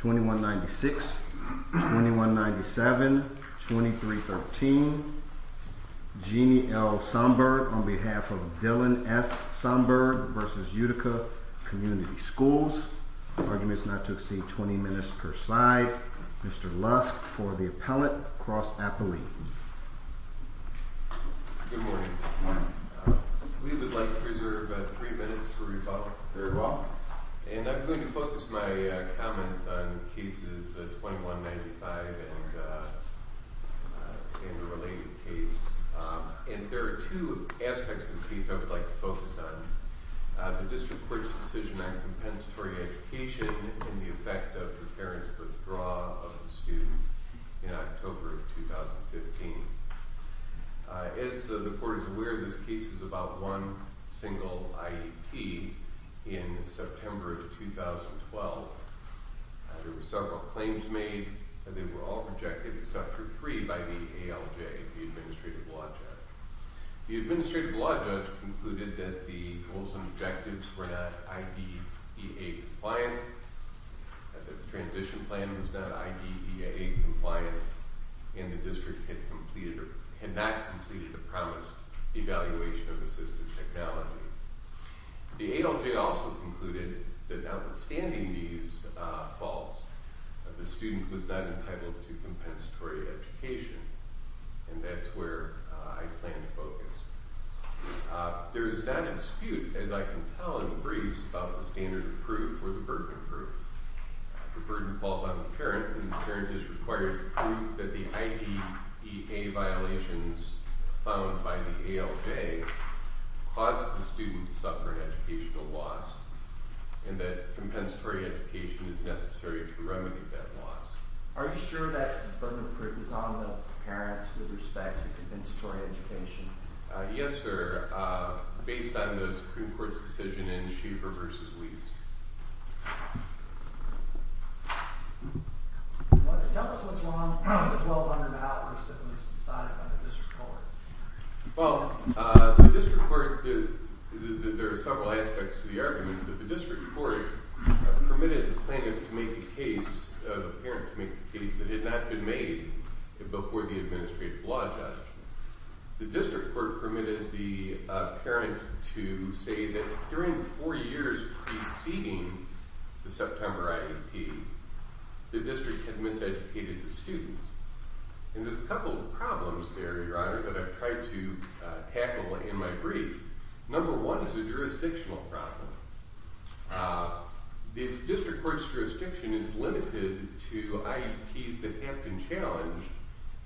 2196, 2197, 2313. Jeannie L. Somberg on behalf of Dylan S. Somberg v. Utica Community Schools. Arguments not to exceed 20 minutes per side. Mr. Lusk for the appellate, Cross Appellee. Good morning. We would like to reserve three minutes for rebuttal. Very well. And I'm going to focus my comments on cases 2195 and the related case. And there are two aspects of the case I would like to focus on. The District Court's decision on compensatory education and the effect of the parents' withdrawal of the student in October of 2015. As the Court is aware, this case is about one single IEP. In September of 2012, there were several claims made. They were all rejected except for three by the ALJ, the Administrative Law Judge. The Administrative Law Judge concluded that the goals and objectives were not IDEA compliant, that the transition plan was not IDEA compliant, and the District had not completed the promised evaluation of assistive technology. The ALJ also concluded that notwithstanding these faults, the student was not entitled to compensatory education, and that's where I plan to focus. There is not a dispute, as I can tell in the briefs, about the standard of proof or the burden of proof. The burden falls on the parent, and the parent is required to prove that the IDEA violations found by the ALJ caused the student to suffer an educational loss, and that compensatory education is necessary to remedy that loss. Are you sure that the burden of proof is on the parents with respect to compensatory education? Yes, sir, based on the Supreme Court's decision in Schieffer v. Lease. Tell us what's wrong with the 1200 hours that was decided by the District Court. Well, the District Court, there are several aspects to the argument, but the District Court permitted the parent to make a case that had not been made before the administrative law judgment. The District Court permitted the parent to say that during the four years preceding the September IEP, the District had miseducated the student, and there's a couple of problems there, Your Honor, that I've tried to tackle in my brief. Number one is a jurisdictional problem. The District Court's jurisdiction is limited to IEPs that have been challenged,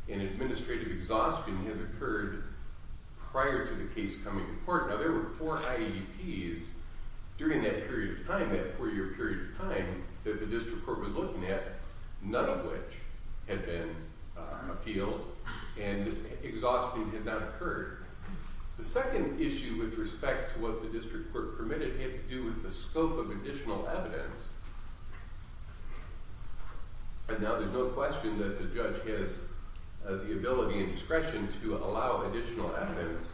and administrative exhaustion has occurred prior to the case coming to court. Now, there were four IEPs during that period of time, that four-year period of time, that the District Court was looking at, none of which had been appealed, and exhaustion had not occurred. The second issue with respect to what the District Court permitted had to do with the scope of additional evidence. And now there's no question that the judge has the ability and discretion to allow additional evidence,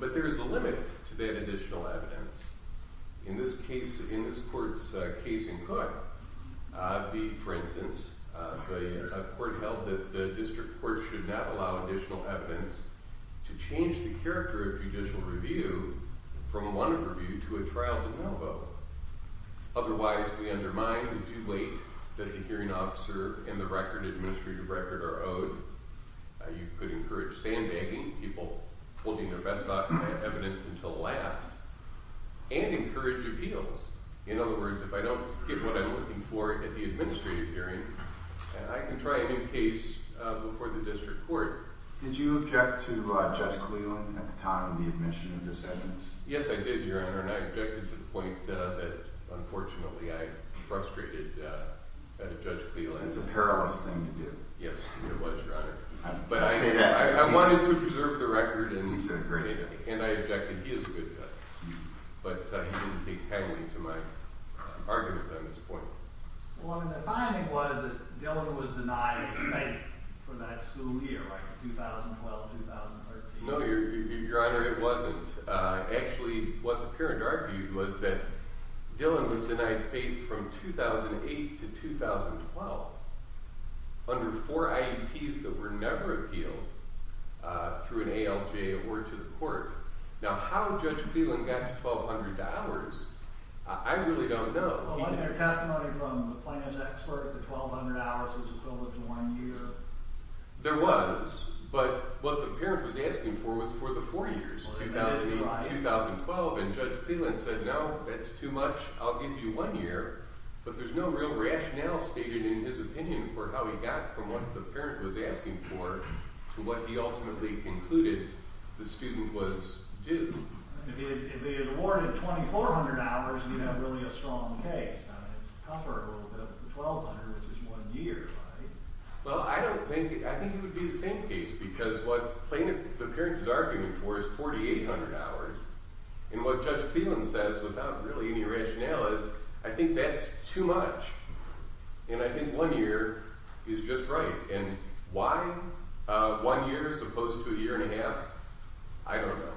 but there is a limit to that additional evidence. In this case, in this Court's case in Cook, for instance, the Court held that the District Court should not allow additional evidence to change the character of judicial review from a one-off review to a trial de novo. Otherwise, we undermine the due weight that the hearing officer and the record, administrative record, are owed. You could encourage sandbagging, people holding their best document of evidence until last, and encourage appeals. In other words, if I don't get what I'm looking for at the administrative hearing, I can try a new case before the District Court. Did you object to Judge Cleland at the time of the admission of this evidence? Yes, I did, Your Honor, and I objected to the point that, unfortunately, I frustrated Judge Cleland. It's a perilous thing to do. Yes, it was, Your Honor. I'll say that again. I wanted to preserve the record, and I objected. He's a great guy. He is a good guy. But he didn't take heavily to my argument on this point. Well, I mean, the finding was that Dillon was denied faith for that school year, 2012-2013. No, Your Honor, it wasn't. Actually, what the parent argued was that Dillon was denied faith from 2008 to 2012 under four IEPs that were never appealed through an ALJ or to the court. Now, how Judge Cleland got to $1,200, I really don't know. Well, wasn't there testimony from the plans expert that 1,200 hours was equivalent to one year? There was, but what the parent was asking for was for the four years, 2008 to 2012. And Judge Cleland said, no, that's too much. I'll give you one year. But there's no real rationale stated in his opinion for how he got from what the parent was asking for to what he ultimately concluded the student was due. If he had awarded 2,400 hours, you'd have really a strong case. I mean, it's tougher a little bit with 1,200, which is one year, right? Well, I think it would be the same case because what the parent is arguing for is 4,800 hours. And what Judge Cleland says without really any rationale is, I think that's too much. And I think one year is just right. And why one year as opposed to a year and a half? I don't know.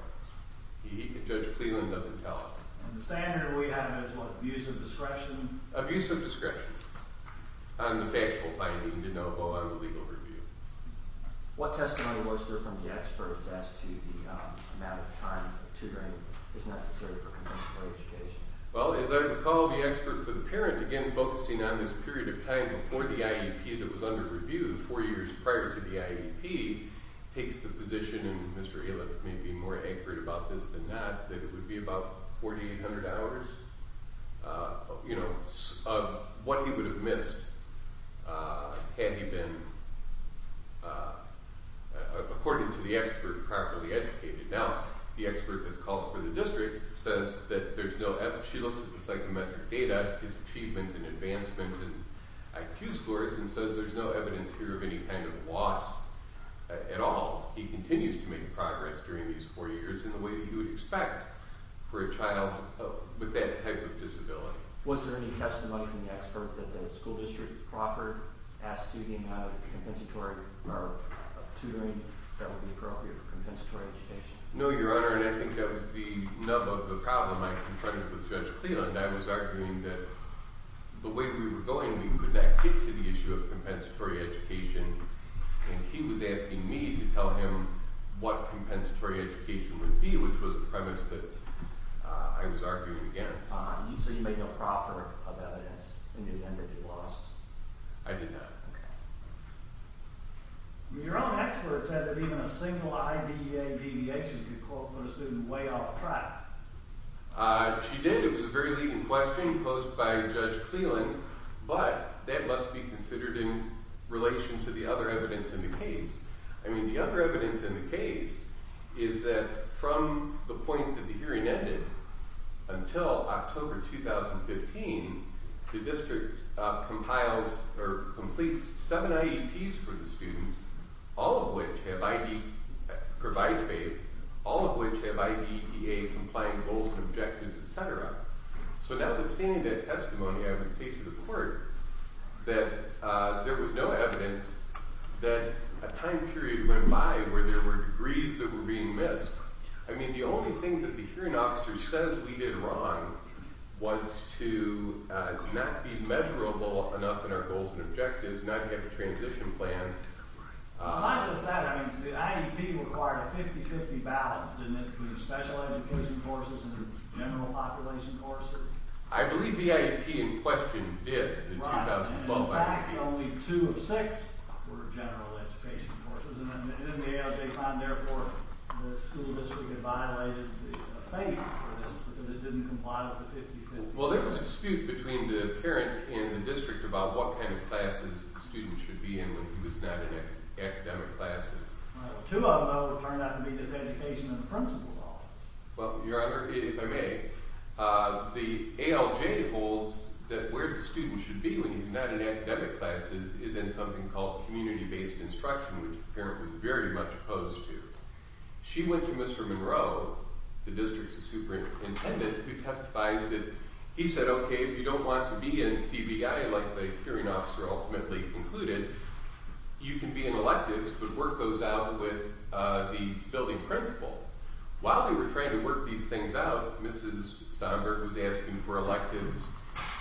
Judge Cleland doesn't tell us. And the standard we have is what, abuse of discretion? Abuse of discretion on the factual finding to know, oh, I'm a legal review. What testimony was there from the experts as to the amount of time tutoring is necessary for conventional education? Well, as I recall, the expert for the parent, again, focusing on this period of time before the IEP that was under review four years prior to the IEP, takes the position, and Mr. Ayliff may be more accurate about this than not, that it would be about 4,800 hours of what he would have missed had he been, according to the expert, properly educated. Now, the expert has called for the district, says that there's no evidence. She looks at the psychometric data, his achievement and advancement in IQ scores, and says there's no evidence here of any kind of loss at all. He continues to make progress during these four years in the way that you would expect for a child with that type of disability. Was there any testimony from the expert that the school district proffered as to the amount of tutoring that would be appropriate for compensatory education? No, Your Honor, and I think that was the nub of the problem I confronted with Judge Cleland. I was arguing that the way we were going, we could not get to the issue of compensatory education, and he was asking me to tell him what compensatory education would be, which was the premise that I was arguing against. You said you made no proffer of evidence in the event that he lost. I did not. Okay. Your own expert said that even a single IBEA deviation could call for a student way off track. She did. It was a very leading question posed by Judge Cleland, but that must be considered in relation to the other evidence in the case. I mean, the other evidence in the case is that from the point that the hearing ended until October 2015, the district compiles or completes seven IEPs for the student, all of which have IBEA complying goals and objectives, etc. So now that's being a testimony, I would say to the court that there was no evidence that a time period went by where there were degrees that were being missed. I mean, the only thing that the hearing officer says we did wrong was to not be measurable enough in our goals and objectives, not have a transition plan. Like I said, the IEP required a 50-50 balance, didn't it, between special education courses and general population courses? I believe the IEP in question did in 2012. Right. In fact, only two of six were general education courses. And then the AOJ found, therefore, that the school district had violated the fate for this, that it didn't comply with the 50-50 balance. Well, there was a dispute between the parent and the district about what kind of classes the student should be in when he was not in academic classes. Two of them, though, turned out to be this education in the principal's office. Well, Your Honor, if I may, the ALJ holds that where the student should be when he's not in academic classes is in something called community-based instruction, which the parent was very much opposed to. She went to Mr. Monroe, the district's superintendent, who testified that he said, okay, if you don't want to be in CBI, like the hearing officer ultimately concluded, you can be in electives, but work goes out with the building principal. While they were trying to work these things out, Mrs. Somburg was asking for electives.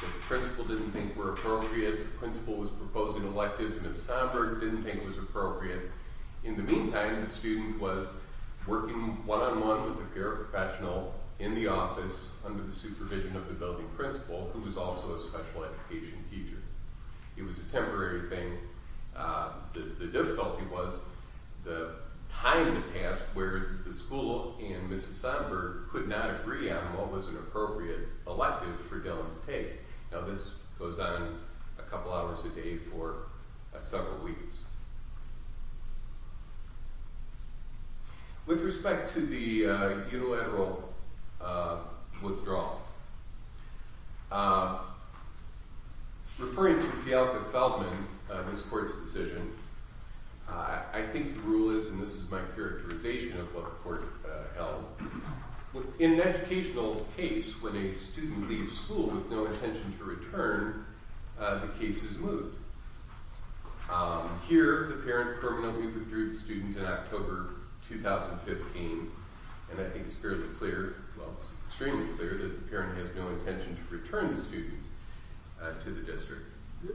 The principal didn't think were appropriate. The principal was proposing electives. Mrs. Somburg didn't think it was appropriate. In the meantime, the student was working one-on-one with a paraprofessional in the office under the supervision of the building principal, who was also a special education teacher. It was a temporary thing. The difficulty was the time had passed where the school and Mrs. Somburg could not agree on what was an appropriate elective for Dylan to take. Now, this goes on a couple hours a day for several weeks. With respect to the unilateral withdrawal, referring to Fialca-Feldman, this court's decision, I think the rule is, and this is my characterization of what the court held, in an educational case, when a student leaves school with no intention to return, the case is moved. Here, the parent permanently withdrew the student in October 2015, and I think it's fairly clear, well, it's extremely clear, that the parent has no intention to return the student to the district.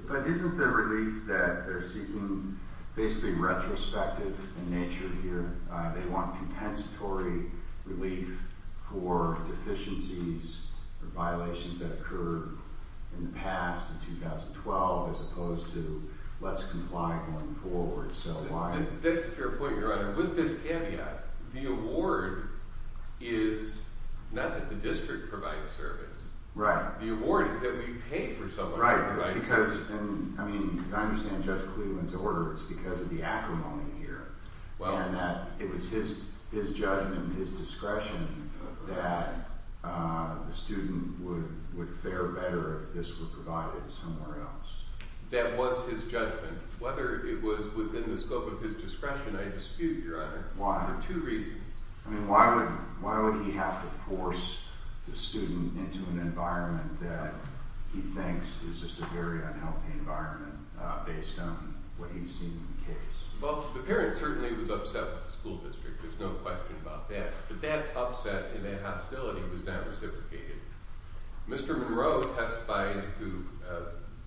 But isn't the relief that they're seeking basically retrospective in nature here? They want compensatory relief for deficiencies or violations that occurred in the past, in 2012, as opposed to let's comply going forward. That's a fair point, Your Honor. With this caveat, the award is not that the district provides service. Right. The award is that we pay for someone who provides service. Right. Because, I mean, I understand Judge Klee went to order, it's because of the acrimony here. Well. And that it was his judgment, his discretion, that the student would fare better if this were provided somewhere else. That was his judgment. Whether it was within the scope of his discretion, I dispute, Your Honor. Why? For two reasons. I mean, why would he have to force the student into an environment that he thinks is just a very unhealthy environment, based on what he's seen in the case? Well, the parent certainly was upset with the school district. There's no question about that. But that upset and that hostility was not reciprocated. Mr. Monroe testified, who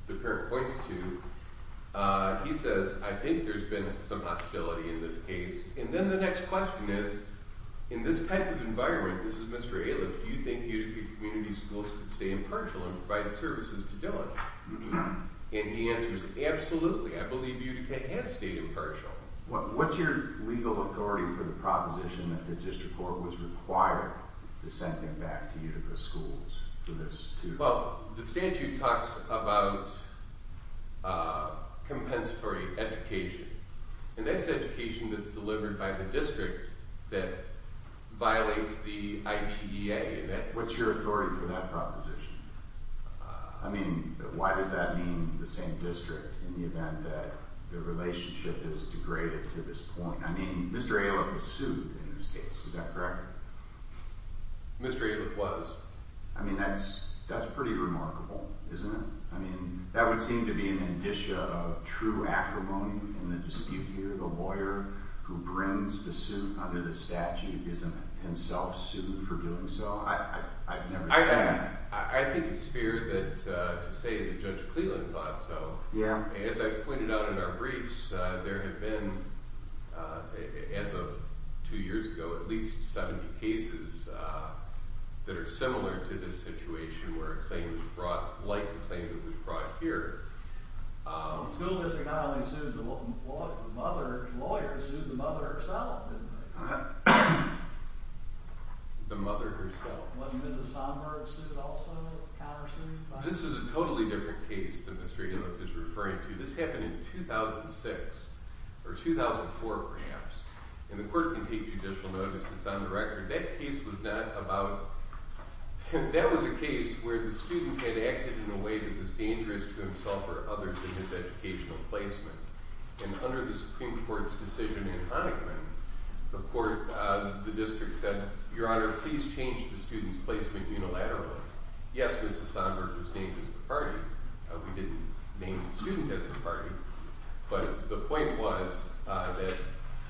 the parent points to, he says, I think there's been some hostility in this case. And then the next question is, in this type of environment, this is Mr. Aliff, do you think Utica Community Schools could stay impartial and provide services to Dylan? And he answers, absolutely. I believe Utica has stayed impartial. What's your legal authority for the proposition that the district court was required to send him back to Utica Schools for this? Well, the statute talks about compensatory education. And that's education that's delivered by the district that violates the IDEA. What's your authority for that proposition? I mean, why does that mean the same district, in the event that the relationship is degraded to this point? I mean, Mr. Aliff was sued in this case, is that correct? Mr. Aliff was. I mean, that's pretty remarkable, isn't it? I mean, that would seem to be an indicia of true acrimony in the dispute here. A lawyer who brings the suit under the statute isn't himself sued for doing so? I've never seen that. I think it's fair to say that Judge Cleland thought so. As I've pointed out in our briefs, there have been, as of two years ago, at least 70 cases that are similar to this situation where a claim was brought, like the claim that was brought here. The school district not only sued the mother, the lawyer sued the mother herself, didn't they? The mother herself. Wasn't Mrs. Sonberg sued also, countersued? This is a totally different case that Mr. Aliff is referring to. This happened in 2006, or 2004 perhaps. And the court can take judicial notice, it's on the record. That case was not about, that was a case where the student had acted in a way that was dangerous to himself or others in his educational placement. And under the Supreme Court's decision in Honickman, the court, the district said, Your Honor, please change the student's placement unilaterally. Yes, Mrs. Sonberg was named as the party. We didn't name the student as the party, but the point was that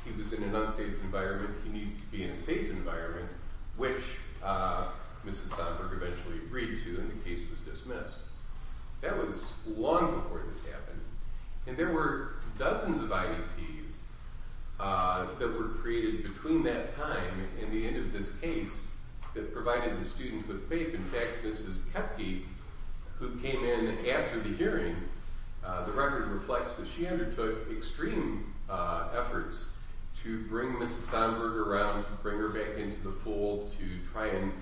he was in an unsafe environment, he needed to be in a safe environment, which Mrs. Sonberg eventually agreed to and the case was dismissed. That was long before this happened. And there were dozens of IDPs that were created between that time and the end of this case that provided the student with faith. In fact, Mrs. Kepke, who came in after the hearing, the record reflects that she undertook extreme efforts to bring Mrs. Sonberg around, to bring her back into the fold, to try and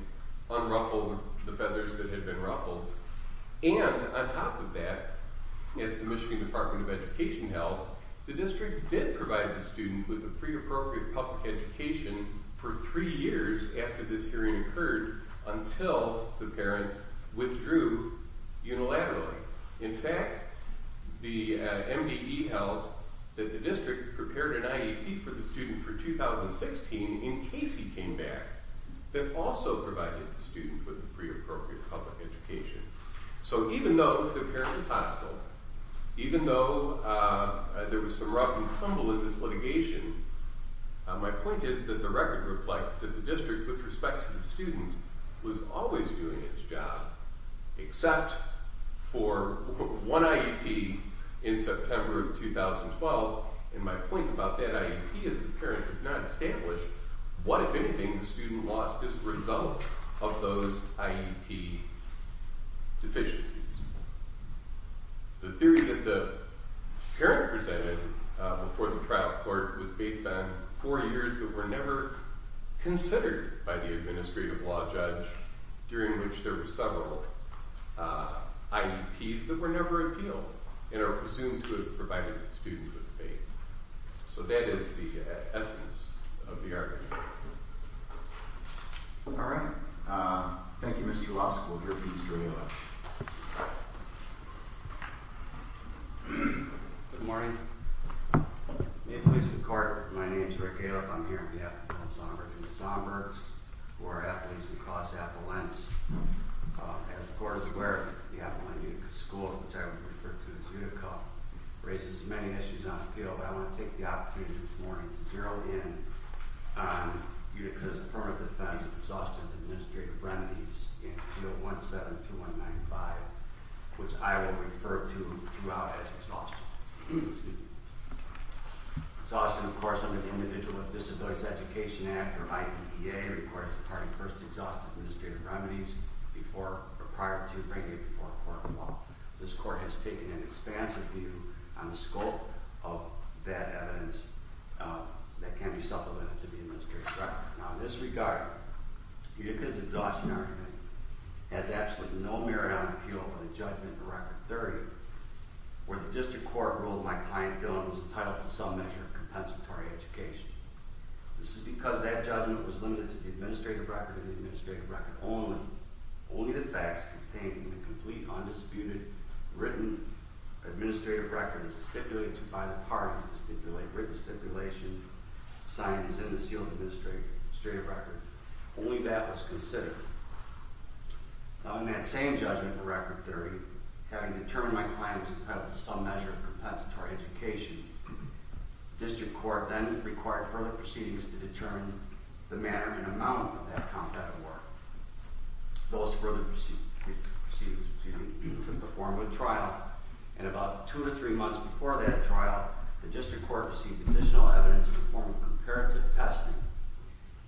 unruffle the feathers that had been ruffled. And on top of that, as the Michigan Department of Education held, the district did provide the student with a pre-appropriate public education for three years after this hearing occurred until the parent withdrew unilaterally. In fact, the MDE held that the district prepared an IEP for the student for 2016 in case he came back that also provided the student with a pre-appropriate public education. So even though the parent was hostile, even though there was some rough and tumble in this litigation, my point is that the record reflects that the district, with respect to the student, was always doing its job, except for one IEP in September of 2012, and my point about that IEP is the parent has not established what, if anything, the student lost as a result of those IEPs. The theory that the parent presented before the trial court was based on four years that were never considered by the administrative law judge, during which there were several IEPs that were never appealed and are presumed to have provided the student with faith. So that is the essence of the argument. All right. Thank you, Mr. Lusk, we'll hear a piece from you next. Good morning. May it please the court, my name is Rick Caleb, I'm here in behalf of Bill Somburg and the Somburgs who are athletes across Appalachians. As the court is aware, the Appalachian schools, which I would refer to as Utica, raises many issues on appeal, but I want to take the opportunity this morning to zero in on Utica's permanent defense of exhaustive administrative remedies in Appeal 172195, which I will refer to throughout as exhaustion. Exhaustion, of course, under the Individual with Disabilities Education Act, or IDEA, requires the party first exhaust administrative remedies prior to bringing it before a court of law. This court has taken an expansive view on the scope of that evidence that can be supplemented to the administrative record. Now, in this regard, Utica's exhaustion argument has absolutely no merit on appeal over the judgment in Record 30, where the district court ruled that my client, Dylan, was entitled to some measure of compensatory education. This is because that judgment was limited to the administrative record and the administrative record only, only the facts contained in the complete, undisputed, written administrative record stipulated by the parties to stipulate written stipulation signed as in the sealed administrative record. Only that was considered. Now, in that same judgment in Record 30, having determined my client was entitled to some measure of compensatory education, the district court then required further proceedings to determine the manner and amount of that competitive work. Those further proceedings were to be performed with trial, and about two to three months before that trial, the district court received additional evidence in the form of comparative testing,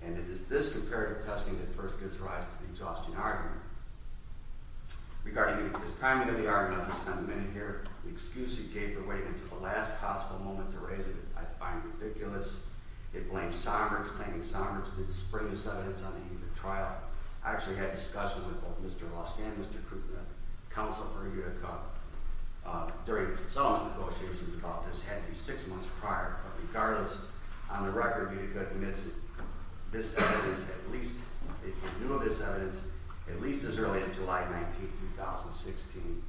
and it is this comparative testing that first gives rise to the exhaustion argument. Regarding this timing of the argument, I'll just spend a minute here. The excuse he gave for waiting until the last possible moment to raise it, I find ridiculous. It blames Sommers, claiming Sommers didn't spring this evidence on the eve of the trial. I actually had discussions with both Mr. Lusk and Mr. Krugman, counsel for Utica, during some of the negotiations about this, had to be six months prior. But regardless, on the record, Utica admits this evidence at least, if you knew of this evidence, at least as early as July 19, 2016,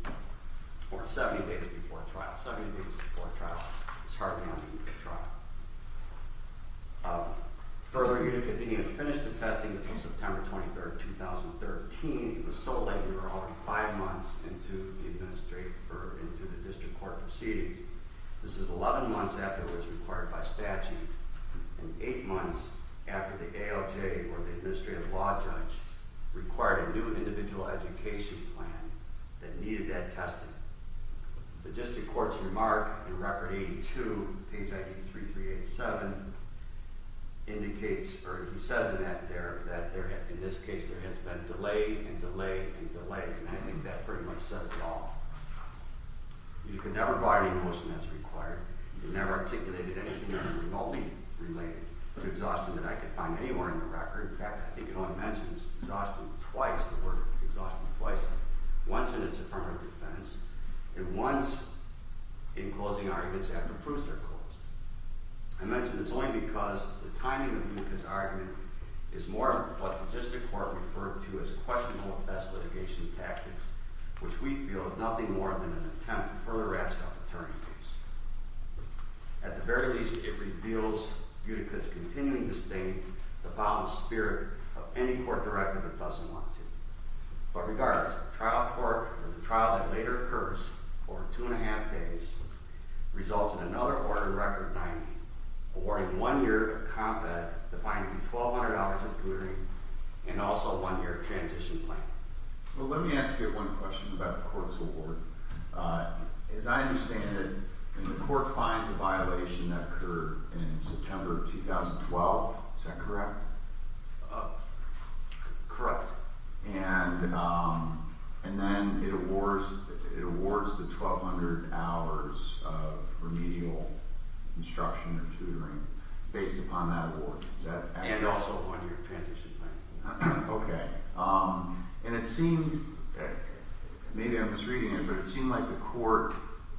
or 70 days before trial. Seventy days before trial. It's hardly anything before trial. Further, Utica didn't even finish the testing until September 23, 2013. It was so late, we were already five months into the district court proceedings. This is 11 months after it was required by statute, and eight months after the ALJ, or the Administrative Law Judge, required a new individual education plan that needed that testing. The district court's remark in Record 82, page 93387, indicates, or he says in that there, that in this case there has been delay and delay and delay, and I think that pretty much says it all. Utica never brought any motion as required. It never articulated anything remotely related to exhaustion that I could find anywhere in the record. In fact, I think it only mentions exhaustion twice, the word exhaustion twice, once in its affirmative defense, and once in closing arguments after proofs are closed. I mention this only because the timing of Utica's argument is more of what the district court referred to as questionable test litigation tactics, which we feel is nothing more than an attempt to further ask for an attorney's case. At the very least, it reveals Utica's continuing disdain to follow the spirit of any court director that doesn't want to. But regardless, the trial that later occurs, over two and a half days, results in another order in Record 90, awarding one year of combat, defined to be $1,200 including, and also one year of transition planning. Well, let me ask you one question about the court's award. As I understand it, the court finds a violation that occurred in September of 2012. Is that correct? Correct. And then it awards the 1,200 hours of remedial instruction or tutoring based upon that award. Is that accurate? And also one year of transition planning. Okay. And it seemed, maybe I'm misreading it, but it seemed like the court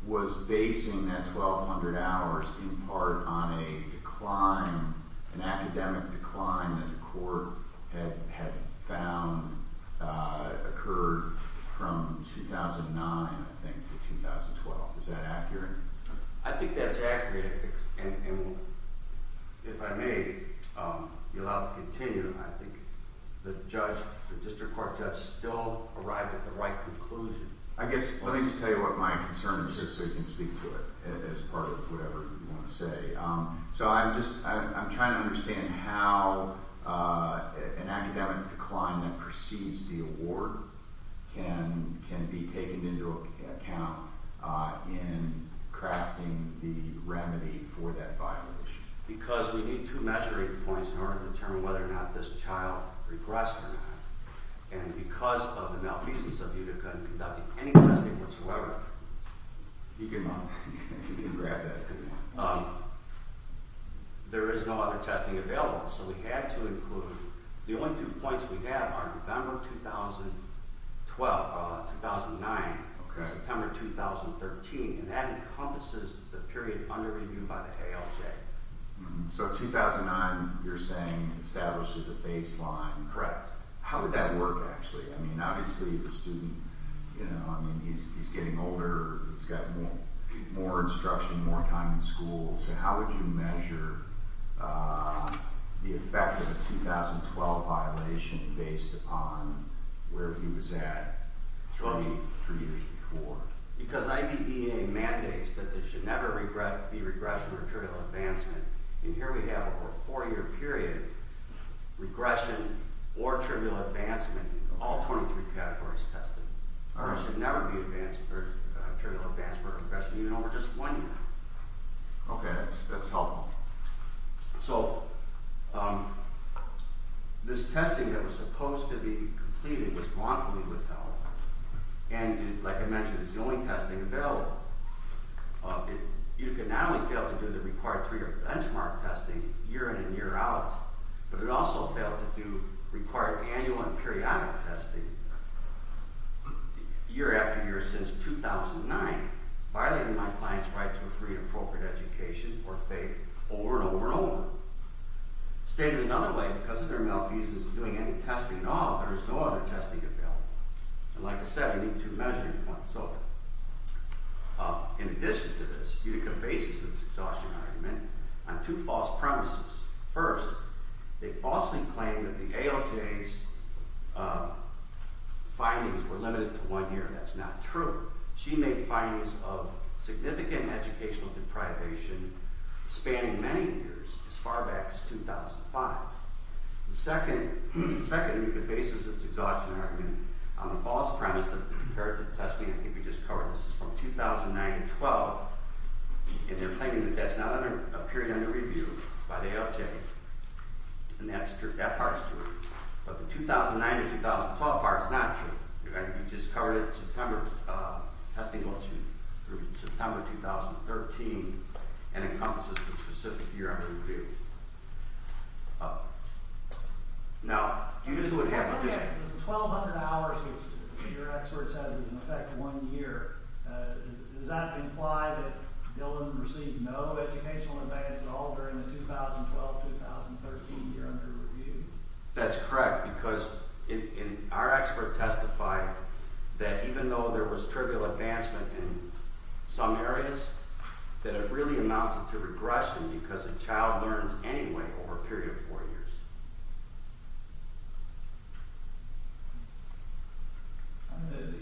was basing that 1,200 hours in part on a decline, an academic decline that the court had found occurred from 2009, I think, to 2012. Is that accurate? I think that's accurate. And if I may, you'll have to continue. I think the judge, the district court judge, still arrived at the right conclusion. I guess, let me just tell you what my concern is just so you can speak to it as part of whatever you want to say. So I'm just, I'm trying to understand how an academic decline that precedes the award can be taken into account in crafting the remedy for that violation. Because we need two measuring points in order to determine whether or not this child regressed or not. And because of the malfeasance of Utica in conducting any testing whatsoever, you can grab that if you want, there is no other testing available. So we had to include, the only two points we have are November 2012, 2009 and September 2013. And that encompasses the period under review by the ALJ. So 2009, you're saying, establishes a baseline? Correct. How would that work, actually? I mean, obviously the student, you know, I mean, he's getting older, he's got more instruction, more time in school. So how would you measure the effect of a 2012 violation based upon where he was at 23 years before? Because IDEA mandates that there should never be regression or trivial advancement. And here we have over a four year period, regression or trivial advancement, all 23 categories tested. Ours should never be trivial advancement or regression, even over just one year. Okay, that's helpful. So, this testing that was supposed to be completed was wrongfully withheld. And like I mentioned, it's the only testing available. You can not only fail to do the required three year benchmark testing year in and year out, but it also failed to do required annual and periodic testing year after year since 2009, violating my client's right to a free and appropriate education or faith over and over and over. Stated another way, because of their malfeasance of doing any testing at all, there is no other testing available. And like I said, we need two measuring points. In addition to this, Utica bases its exhaustion argument on two false premises. First, they falsely claim that the ALJ's findings were limited to one year. That's not true. She made findings of significant educational deprivation spanning many years, as far back as 2005. Second, Utica bases its exhaustion argument on the false premise that, compared to the testing I think we just covered, this is from 2009-2012, and they're claiming that that's not a period under review by the ALJ. And that's true. That part's true. But the 2009-2012 part's not true. You just covered it in September. Testing was through September 2013, and it encompasses the specific year under review. Now, Utica would have... The 1,200 hours which your expert says is in effect one year, does that imply that Dillon received no educational advance at all during the 2012-2013 year under review? That's correct, because our expert testified that even though there was trivial advancement in some areas, that it really amounted to regression because a child learns anyway over a period of four years.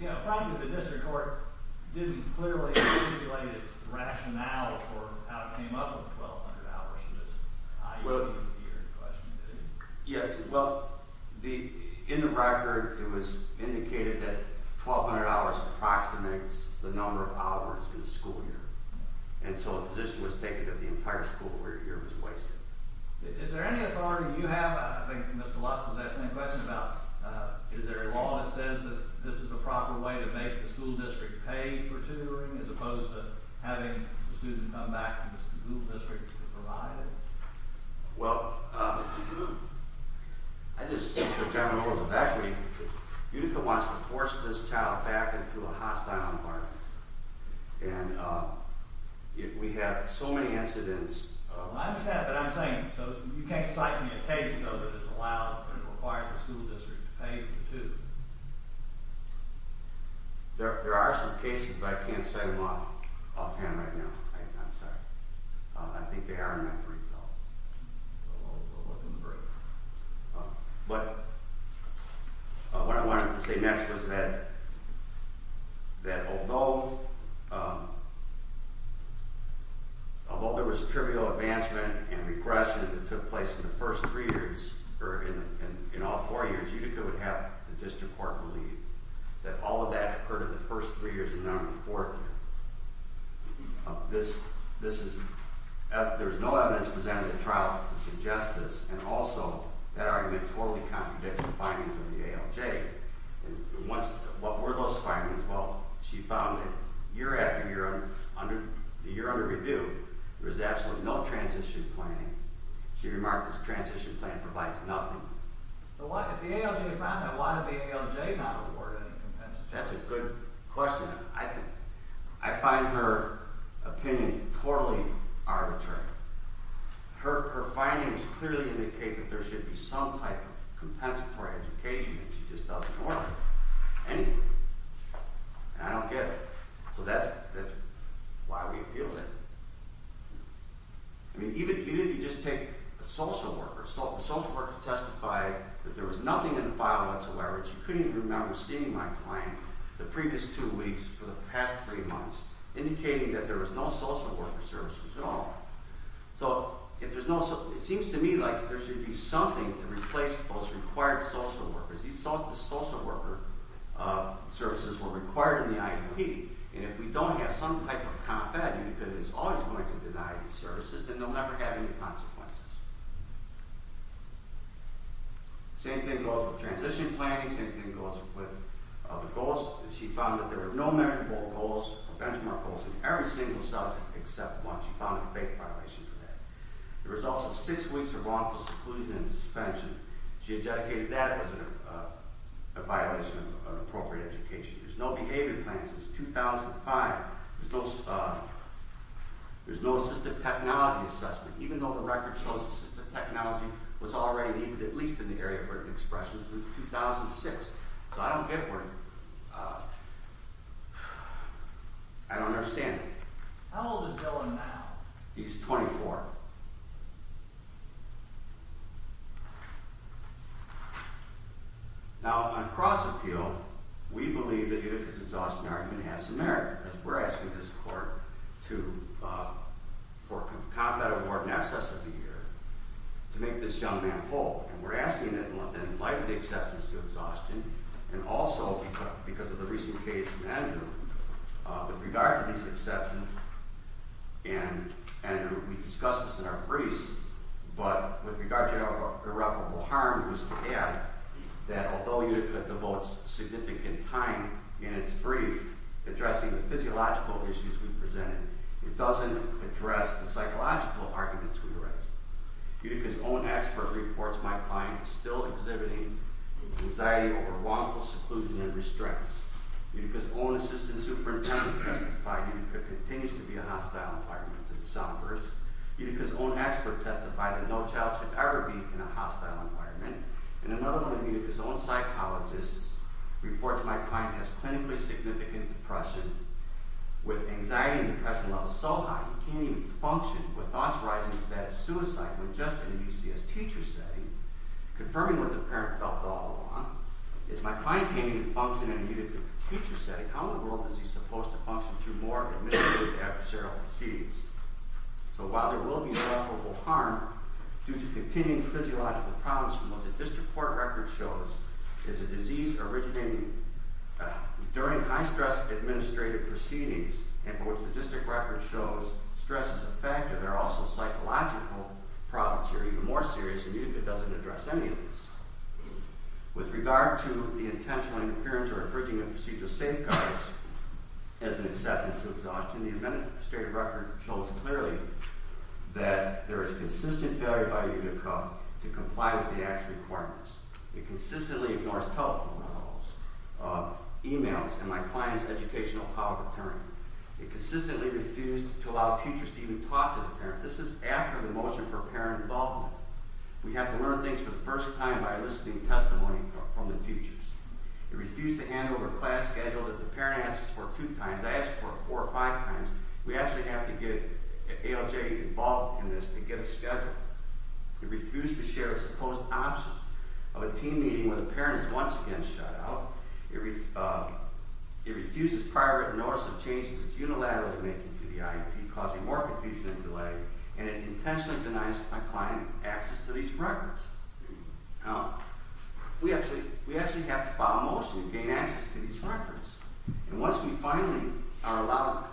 You know, probably the district court didn't clearly articulate its rationale for how it came up with 1,200 hours in this IUD year question, did it? Yeah, well, in the record it was indicated that 1,200 hours approximates the number of hours in a school year, and so a position was taken that the entire school year was wasted. Is there any authority you have? I think Mr. Lusk was asking the same question about is there a law that says that this is the proper way to make the school district pay for tutoring as opposed to having the student come back to the school district to provide it? Well, I just think the general rule of the factory, Utica wants to force this child back into a hostile environment, and we have so many incidents... I understand, but I'm saying, so you can't cite me a case, though, that it's allowed or required the school district to pay for tutoring? There are some cases, but I can't say them offhand right now. I'm sorry. I think they are in that brief, though. But what I wanted to say next was that although there was trivial advancement and regression that took place in the first three years, or in all four years, Utica would have the district court believe that all of that occurred in the first three years and not in the fourth. There is no evidence presented in the trial to suggest this, and also that argument totally contradicts the findings of the ALJ. What were those findings? Well, she found that year after year, the year under review, there was absolutely no transition planning. She remarked that transition planning provides nothing. But if the ALJ found that, why did the ALJ not award any compensatory education? That's a good question. I find her opinion totally arbitrary. Her findings clearly indicate that there should be some type of compensatory education, and she just doesn't want any. And I don't get it. So that's why we appealed it. Even if you just take a social worker, the social worker testified that there was nothing in the file whatsoever. She couldn't even remember seeing my client the previous two weeks for the past three months, indicating that there was no social worker services at all. So it seems to me like there should be something to replace those required social workers. These social worker services were required in the IEP, and if we don't have some type of comp value that is always going to deny these services, then they'll never have any consequences. Same thing goes with transition planning. Same thing goes with the goals. She found that there were no measurable goals or benchmark goals in every single subject except one. She found a fake violation for that. The results of six weeks of wrongful seclusion and suspension, she had dedicated that as a violation of appropriate education. There's no behavior plan since 2005. There's no assistive technology assessment, even though the record shows assistive technology was already needed at least in the area of written expression since 2006. So I don't get where… I don't understand it. How old is Dylan now? He's 24. And we discussed this in our briefs, but with regard to irreparable harm was to add that although UTICA devotes significant time in its brief addressing the physiological issues we presented, it doesn't address the psychological arguments we raised. UTICA's own expert reports my client is still exhibiting anxiety over wrongful seclusion and restraints. UTICA's own assistant superintendent testified UTICA continues to be a hostile environment to the sophomores. UTICA's own expert testified that no child should ever be in a hostile environment. And another one of UTICA's own psychologists reports my client has clinically significant depression with anxiety and depression levels so high he can't even function with thoughts rising as bad as suicide with just an UCS teacher setting. Confirming what the parent felt all along is my client can't even function in a UTICA teacher setting. How in the world is he supposed to function through more administrative adversarial proceedings? So while there will be irreparable harm due to continuing physiological problems from what the district court record shows is a disease originating during high-stress administrative proceedings and for which the district record shows stress is a factor, there are also psychological problems here even more serious and UTICA doesn't address any of this. With regard to the intentional interference or infringement of procedural safeguards as an acceptance of exhaustion, the administrative record shows clearly that there is consistent failure by UTICA to comply with the act's requirements. It consistently ignores telephone calls, emails, and my client's educational power of attorney. It consistently refused to allow teachers to even talk to the parent. This is after the motion for parent involvement. We have to learn things for the first time by listening to testimony from the teachers. It refused to hand over a class schedule that the parent asks for two times, I ask for it four or five times. We actually have to get ALJ involved in this to get a schedule. It refused to share its supposed options of a team meeting when the parent is once again shut out. It refuses prior written notice of changes it's unilaterally making to the IEP causing more confusion and delay and it intentionally denies my client access to these records. We actually have to file a motion to gain access to these records. And once we finally are allowed,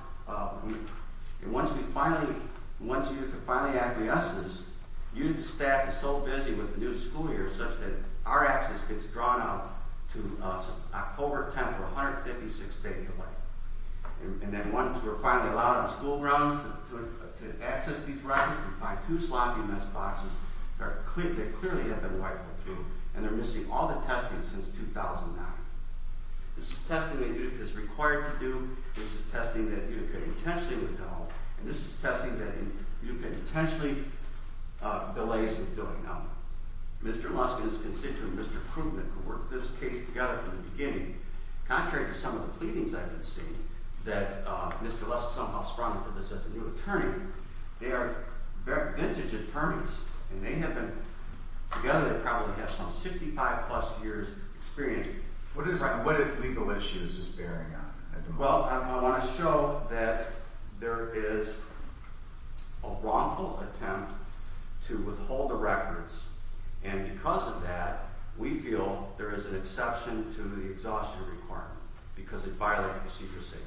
once UTICA finally acquiesces, UTICA staff is so busy with the new school year such that our access gets drawn out to October 10th, we're 156 days away. And then once we're finally allowed on school grounds to access these records, we find two sloppy mess boxes that clearly have been wiped through and they're missing all the testing since 2009. This is testing that UTICA is required to do, this is testing that UTICA intentionally withheld, and this is testing that UTICA intentionally delays in doing. Now, Mr. Luskin's constituent, Mr. Krugman, who worked this case together from the beginning, contrary to some of the pleadings I've been seeing, that Mr. Luskin somehow sprung into this as a new attorney. They are vintage attorneys and together they probably have some 65 plus years experience. What legal issue is this bearing on? Well, I want to show that there is a wrongful attempt to withhold the records and because of that, we feel there is an exception to the exhaustion requirement because it violated procedure safeguards.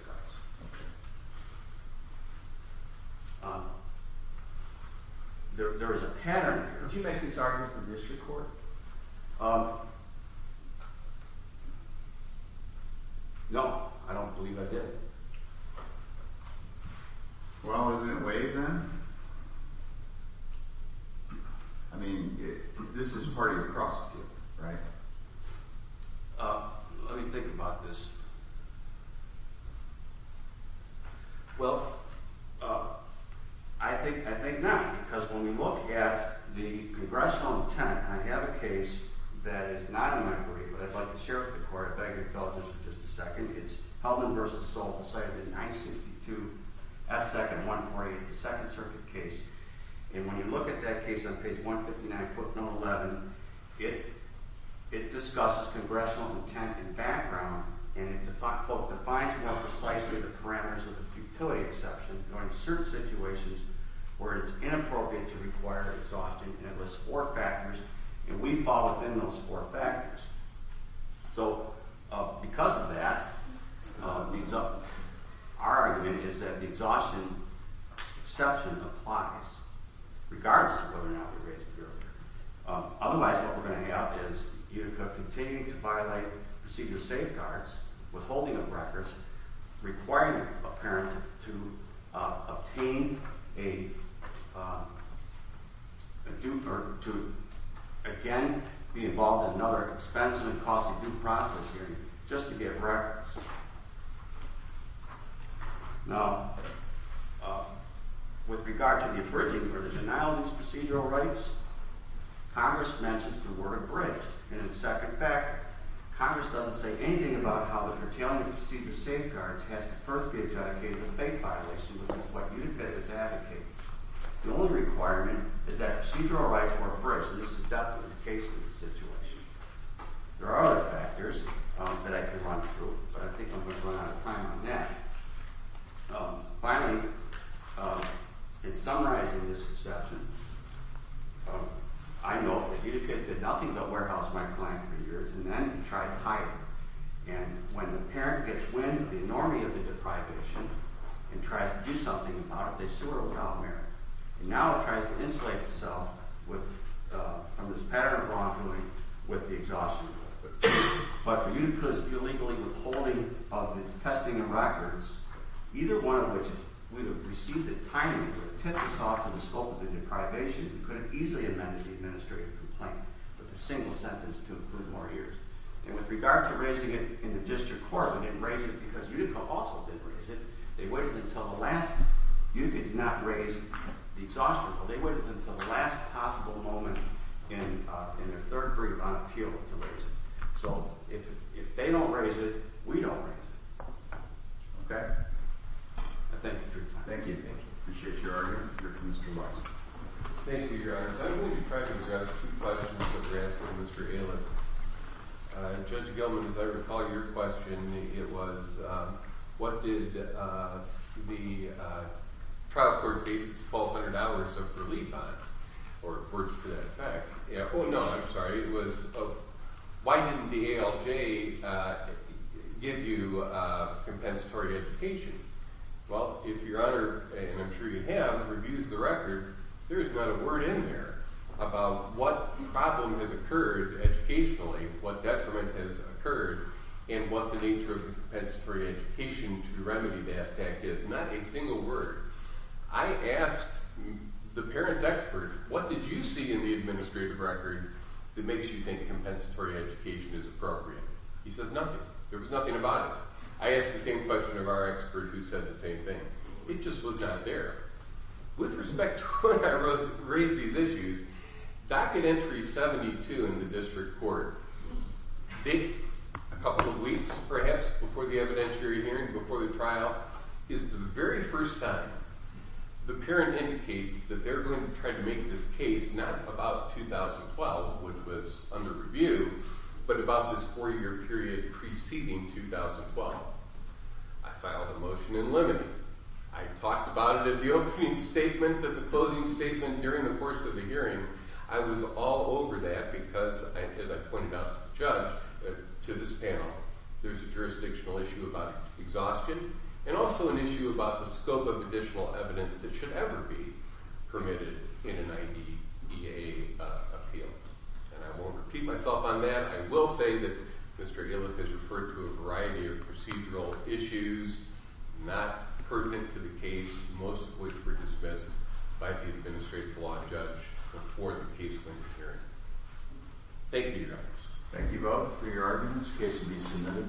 There is a pattern here. Could you make this argument for district court? No, I don't believe I did. Well, isn't it waived then? I mean, this is part of the prosecution, right? Let me think about this. Well, I think not because when we look at the congressional intent, and I have a case that is not in my brief, but I'd like to share with the court, I beg your indulgence for just a second, it's Heldman v. Solt, cited in 962S2-148, it's a Second Circuit case. And when you look at that case on page 159, quote, note 11, it discusses congressional intent and background and it defines more precisely the parameters of the futility exception in certain situations where it is inappropriate to require exhaustion and it lists four factors and we fall within those four factors. So, because of that, our argument is that the exhaustion exception applies regardless of whether or not we raised it earlier. Otherwise, what we're going to have is you continue to violate procedure safeguards, withholding of records, requiring a parent to obtain a due, or to, again, be involved in another expensive and costly due process hearing just to get records. Now, with regard to the abridging or the denial of these procedural rights, Congress mentions the word abridged, and in the second fact, Congress doesn't say anything about how the curtailment of procedure safeguards has to first be adjudicated a fate violation, which is what you did as advocates. The only requirement is that procedural rights work first, and this is definitely the case in this situation. There are other factors that I could run through, but I think I'm going to run out of time on that. Finally, in summarizing this exception, I know that Utica did nothing but warehouse my client for years and then tried to hire him, and when the parent gets wind of the enormity of the deprivation and tries to do something about it, they sue her without merit. And now it tries to insulate itself from this pattern of wrongdoing with the exhaustion. But for Utica's illegally withholding of his testing and records, either one of which would have received a timing or tipped us off to the scope of the deprivation, we could have easily amended the administrative complaint with a single sentence to improve more years. And with regard to raising it in the district court, we didn't raise it because Utica also didn't raise it. They waited until the last – Utica did not raise the exhaustion bill. They waited until the last possible moment in their third brief on appeal to raise it. So if they don't raise it, we don't raise it. Okay? I thank you for your time. Thank you. I appreciate your argument. Mr. Marks. Mr. Marks, and I'm sure you have, reviews the record. There is not a word in there about what problem has occurred educationally, what detriment has occurred, and what the nature of the compensatory education to remedy that is. Not a single word. I asked the parents' expert, what did you see in the administrative record that makes you think compensatory education is appropriate? He says nothing. There was nothing about it. I asked the same question of our expert who said the same thing. It just was not there. With respect to when I raised these issues, docket entry 72 in the district court, a couple of weeks perhaps before the evidentiary hearing, before the trial, is the very first time the parent indicates that they're going to try to make this case not about 2012, which was under review, but about this four-year period preceding 2012. I filed a motion in limine. I talked about it at the opening statement, at the closing statement during the course of the hearing. I was all over that because, as I pointed out to the judge, to this panel, there's a jurisdictional issue about exhaustion, and also an issue about the scope of additional evidence that should ever be permitted in an IDEA appeal. I won't repeat myself on that. I will say that Mr. Iliff has referred to a variety of procedural issues not pertinent to the case, most of which were dismissed by the administrative law judge before the case went to hearing. Thank you, Your Honors.